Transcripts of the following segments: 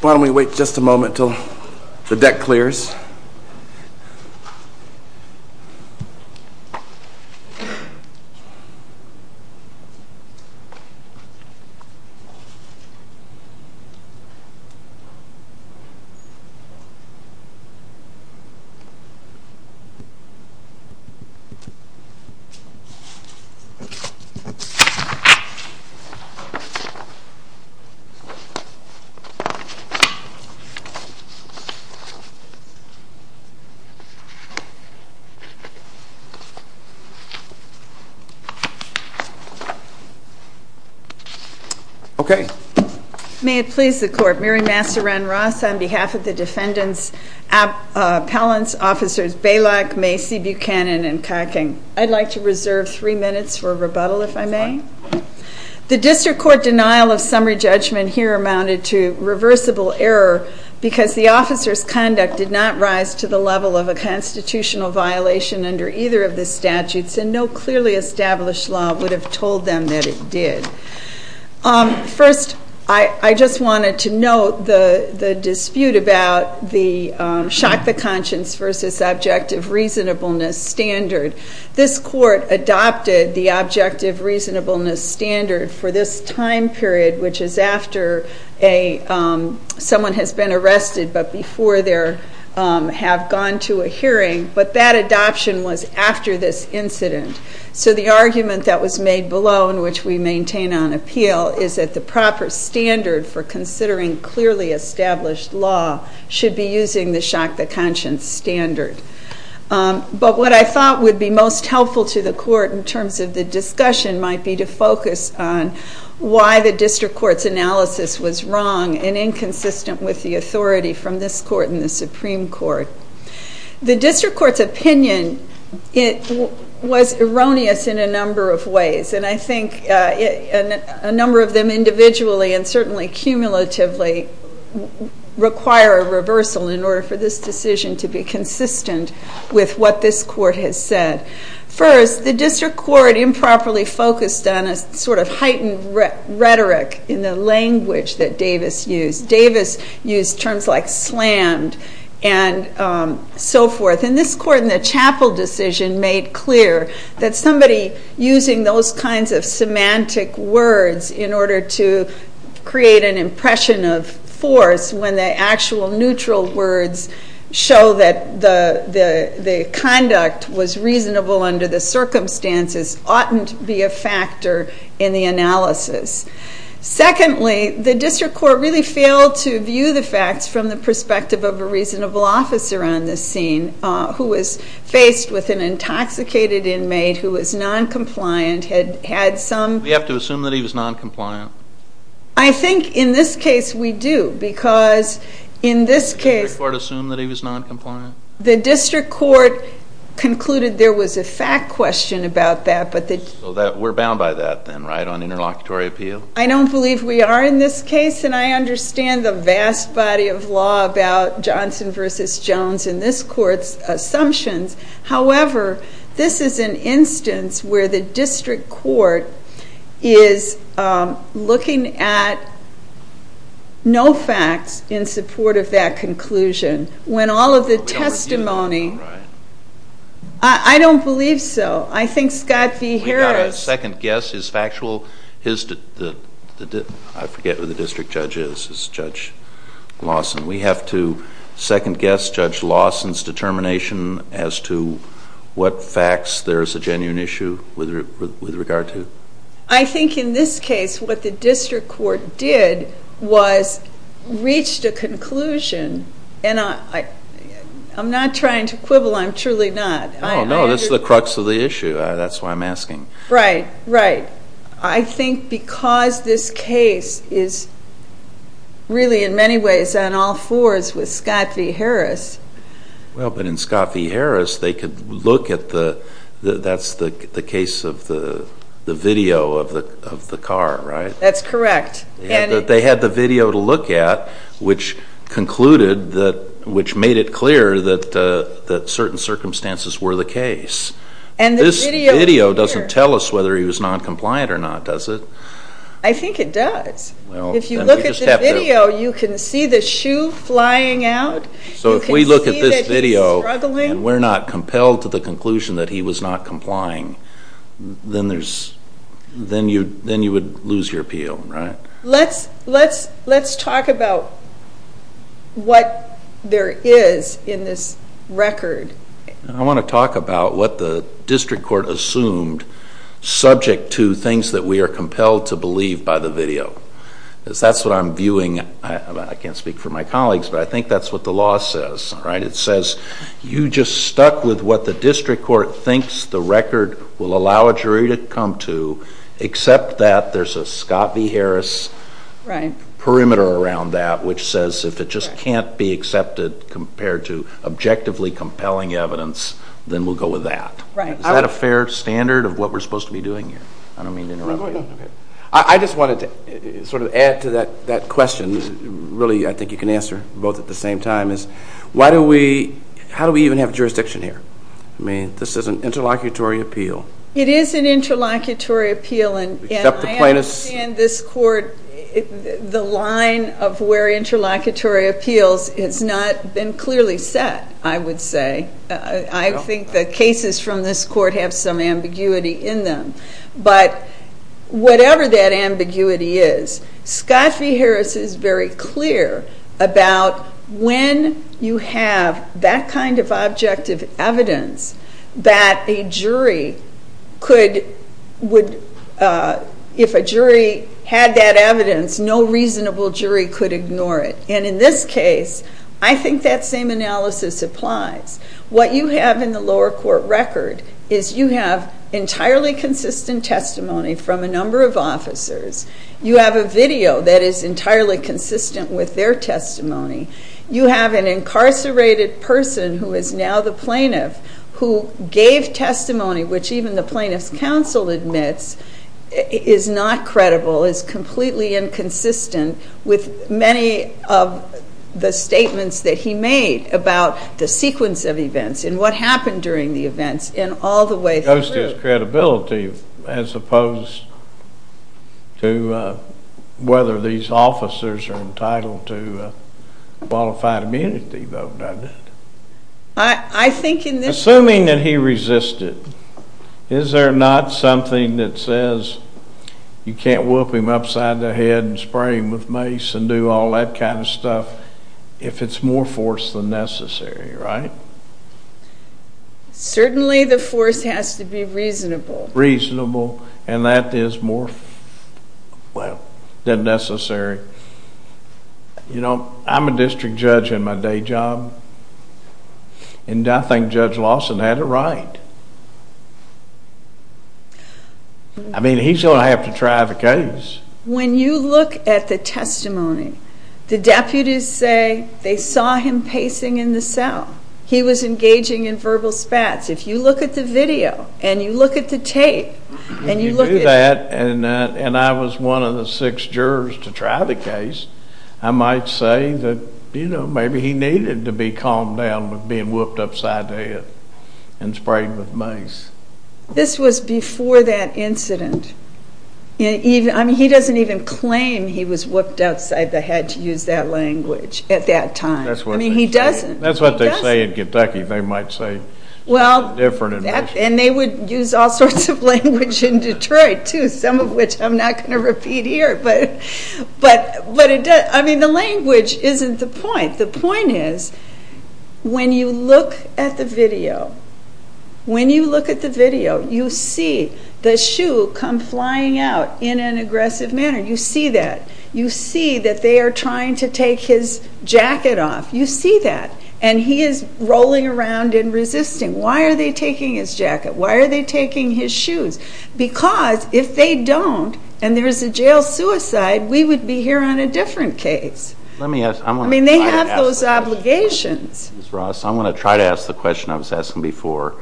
Why don't we wait just a moment until the deck clears. May it please the Court, Mary Masseran Ross on behalf of the defendants, appellants, officers Baylock, Macy, Buchanan, and Koching. I'd like to reserve three minutes for rebuttal if I may. The District Court denial of summary judgment here amounted to reversible error because the officer's conduct did not rise to the level of a constitutional violation under either of the statutes, and no clearly established law would have told them that it did. First I just wanted to note the dispute about the shock to conscience versus objective reasonableness standard. This Court adopted the objective reasonableness standard for this time period, which is after someone has been arrested but before they have gone to a hearing. But that adoption was after this incident. So the argument that was made below, and which we maintain on appeal, is that the proper standard for considering clearly established law should be using the shock to conscience standard. But what I thought would be most helpful to the Court in terms of the discussion might be to focus on why the District Court's analysis was wrong and inconsistent with the authority from this Court and the Supreme Court. The District Court's opinion was erroneous in a number of ways, and I think a number of them individually and certainly cumulatively require a reversal in order for this decision to be consistent with what this Court has said. First, the District Court improperly focused on a sort of heightened rhetoric in the language that Davis used. Davis used terms like slammed and so forth. And this Court in the Chapel decision made clear that somebody using those kinds of semantic words in order to create an impression of force when the actual neutral words show that the conduct was reasonable under the circumstances oughtn't be a factor in the analysis. Secondly, the District Court really failed to view the facts from the perspective of a reasonable officer on this scene who was faced with an intoxicated inmate who was noncompliant, had some... We have to assume that he was noncompliant? I think in this case we do, because in this case... Did the District Court assume that he was noncompliant? The District Court concluded there was a fact question about that, but the... We're bound by that then, right, on interlocutory appeal? I don't believe we are in this case, and I understand the vast body of law about Johnson v. Jones in this Court's assumptions, however, this is an instance where the District Court is looking at no facts in support of that conclusion. When all of the testimony... I don't believe so. I think Scott v. Harris... We've got to second guess his factual... I forget who the District Judge is, it's Judge Lawson. We have to second guess Judge Lawson's determination as to what facts there is a genuine issue with regard to? I think in this case what the District Court did was reached a conclusion, and I'm not trying to quibble, I'm truly not. No, no, this is the crux of the issue, that's why I'm asking. Right, right. I think because this case is really in many ways on all fours with Scott v. Harris... Well, but in Scott v. Harris they could look at the... That's the case of the video of the car, right? That's correct. They had the video to look at, which concluded that... This video doesn't tell us whether he was non-compliant or not, does it? I think it does. If you look at the video, you can see the shoe flying out, you can see that he's struggling. So if we look at this video and we're not compelled to the conclusion that he was not complying, then you would lose your appeal, right? Let's talk about what there is in this record. I want to talk about what the district court assumed subject to things that we are compelled to believe by the video, because that's what I'm viewing. I can't speak for my colleagues, but I think that's what the law says, right? It says you just stuck with what the district court thinks the record will allow a jury to come to, except that there's a Scott v. Harris perimeter around that, which says if it just can't be accepted compared to objectively compelling evidence, then we'll go with that. Is that a fair standard of what we're supposed to be doing here? I don't mean to interrupt you. I just wanted to sort of add to that question, really I think you can answer both at the same time, is how do we even have jurisdiction here? This is an interlocutory appeal. It is an interlocutory appeal, and I understand this court, the line of where interlocutory appeals has not been clearly set, I would say. I think the cases from this court have some ambiguity in them. But whatever that ambiguity is, Scott v. Harris is very clear about when you have that kind of objective evidence that a jury could, would, if a jury had that evidence, no reasonable jury could ignore it. And in this case, I think that same analysis applies. What you have in the lower court record is you have entirely consistent testimony from a number of officers. You have a video that is entirely consistent with their testimony. You have an incarcerated person who is now the plaintiff, who gave testimony which even the plaintiff's counsel admits is not credible, is completely inconsistent with many of the statements that he made about the sequence of events and what happened during the events and all the way through. It goes to his credibility as opposed to whether these officers are entitled to a qualified immunity vote, doesn't it? Assuming that he resisted, is there not something that says you can't whoop him upside the head and spray him with mace and do all that kind of stuff if it's more force than necessary, right? Certainly, the force has to be reasonable. Reasonable, and that is more, well, than necessary. You know, I'm a district judge in my day job, and I think Judge Lawson had it right. I mean, he's going to have to try the case. When you look at the testimony, the deputies say they saw him pacing in the cell. He was engaging in verbal spats. If you look at the video, and you look at the tape, and you look at... And I was one of the six jurors to try the case, I might say that, you know, maybe he needed to be calmed down with being whooped upside the head and sprayed with mace. This was before that incident. I mean, he doesn't even claim he was whooped upside the head to use that language at that time. I mean, he doesn't. That's what they say in Kentucky. They might say it's different in Michigan. And they would use all sorts of language in Detroit, too, some of which I'm not going to repeat here. But I mean, the language isn't the point. The point is when you look at the video, when you look at the video, you see the shoe come flying out in an aggressive manner. You see that. You see that they are trying to take his jacket off. You see that. And he is rolling around and resisting. Why are they taking his jacket? Why are they taking his shoes? Because if they don't and there is a jail suicide, we would be here on a different case. Let me ask. I mean, they have those obligations. Ms. Ross, I'm going to try to ask the question I was asking before.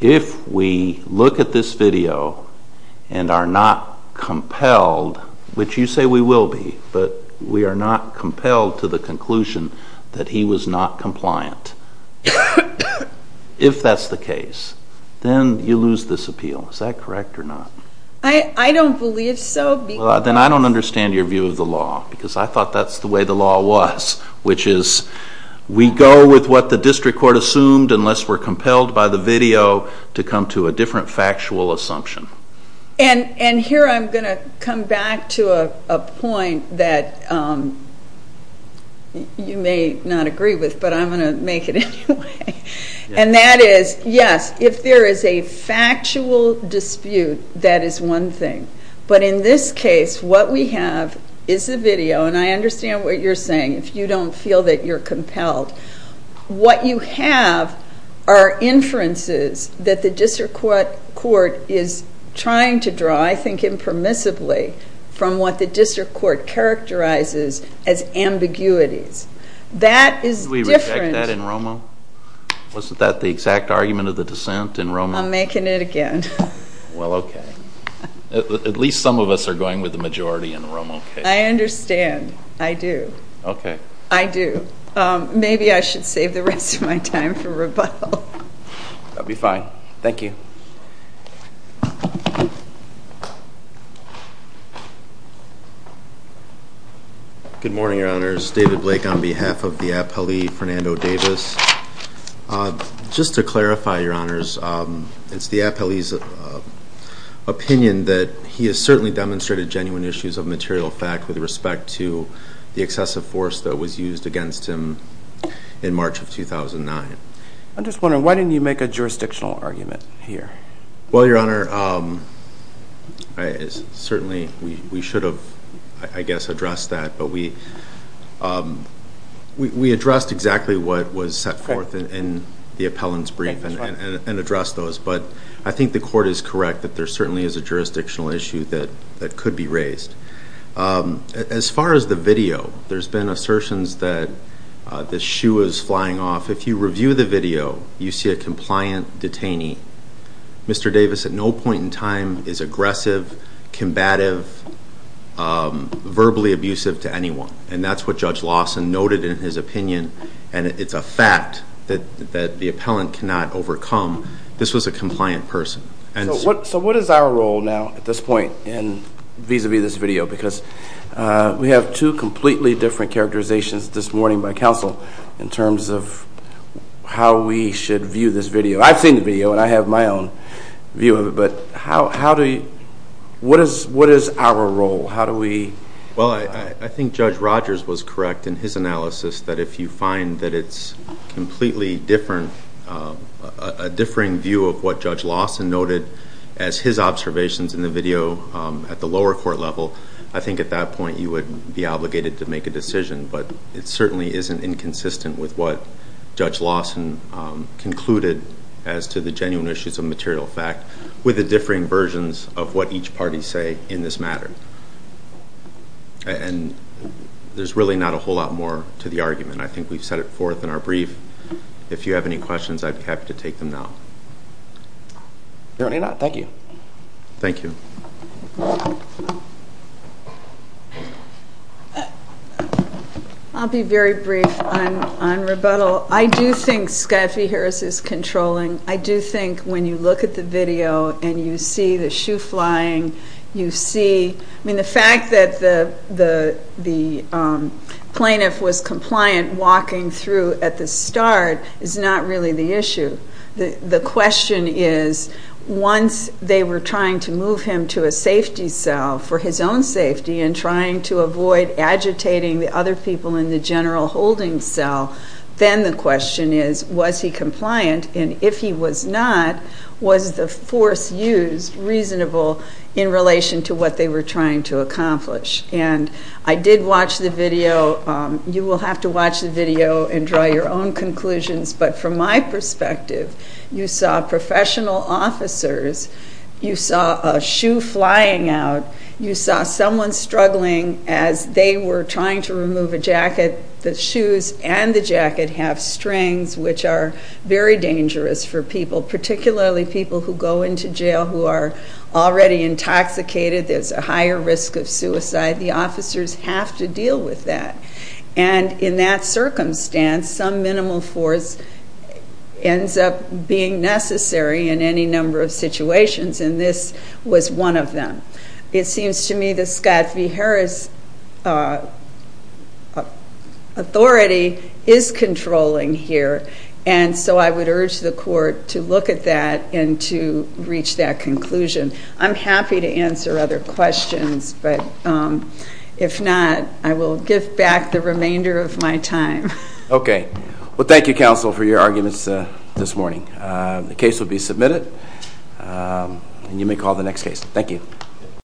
If we look at this video and are not compelled, which you say we will be, but we are not compelled to the conclusion that he was not compliant, if that's the case, then you lose this appeal. Is that correct or not? I don't believe so. Then I don't understand your view of the law because I thought that's the way the law was, which is we go with what the district court assumed unless we are compelled by the video to come to a different factual assumption. And here I'm going to come back to a point that you may not agree with, but I'm going to make it anyway. And that is, yes, if there is a factual dispute, that is one thing. But in this case, what we have is a video, and I understand what you're saying if you don't feel that you're compelled. What you have are inferences that the district court is trying to draw, I think impermissibly, from what the district court characterizes as ambiguities. That is different. Do we reject that in ROMO? Wasn't that the exact argument of the dissent in ROMO? I'm making it again. Well, okay. At least some of us are going with the majority in ROMO. I understand. I do. Okay. I do. Maybe I should save the rest of my time for rebuttal. That would be fine. Thank you. Good morning, Your Honors. David Blake on behalf of the appellee, Fernando Davis. Just to clarify, Your Honors, it's the appellee's opinion that he has certainly demonstrated genuine issues of material fact with respect to the excessive force that was used against him in March of 2009. I'm just wondering, why didn't you make a jurisdictional argument here? Well, Your Honor, certainly we should have, I guess, addressed that, but we addressed exactly what was set forth in the appellant's brief and addressed those. But I think the court is correct that there certainly is a jurisdictional issue that could be raised. As far as the video, there's been assertions that the shoe is flying off. If you review the video, you see a compliant detainee. Mr. Davis at no point in time is aggressive, combative, verbally abusive to anyone. And that's what Judge Lawson noted in his opinion, and it's a fact that the appellant cannot overcome. This was a compliant person. So what is our role now at this point vis-a-vis this video? Because we have two completely different characterizations this morning by counsel in terms of how we should view this video. I've seen the video, and I have my own view of it, but what is our role? How do we? Well, I think Judge Rogers was correct in his analysis that if you find that it's completely different, a differing view of what Judge Lawson noted as his observations in the video at the lower court level, I think at that point you would be obligated to make a decision. But it certainly isn't inconsistent with what Judge Lawson concluded as to the genuine issues of material fact with the differing versions of what each party say in this matter. And there's really not a whole lot more to the argument. And I think we've set it forth in our brief. If you have any questions, I'd be happy to take them now. No, you're not. Thank you. Thank you. I'll be very brief on rebuttal. I do think Skyphy Harris is controlling. I do think when you look at the video and you see the shoe flying, you see, I mean, the fact that the plaintiff was compliant walking through at the start is not really the issue. The question is once they were trying to move him to a safety cell for his own safety and trying to avoid agitating the other people in the general holding cell, then the question is was he compliant? And if he was not, was the force used reasonable in relation to what they were trying to accomplish? And I did watch the video. You will have to watch the video and draw your own conclusions. But from my perspective, you saw professional officers. You saw a shoe flying out. You saw someone struggling as they were trying to remove a jacket. The shoes and the jacket have strings, which are very dangerous for people, particularly people who go into jail who are already intoxicated. There is a higher risk of suicide. The officers have to deal with that. And in that circumstance, some minimal force ends up being necessary in any number of situations and this was one of them. It seems to me that Skyphy Harris' authority is controlling here. And so I would urge the court to look at that and to reach that conclusion. I'm happy to answer other questions, but if not, I will give back the remainder of my time. Okay. Well, thank you, counsel, for your arguments this morning. The case will be submitted and you may call the next case. Thank you.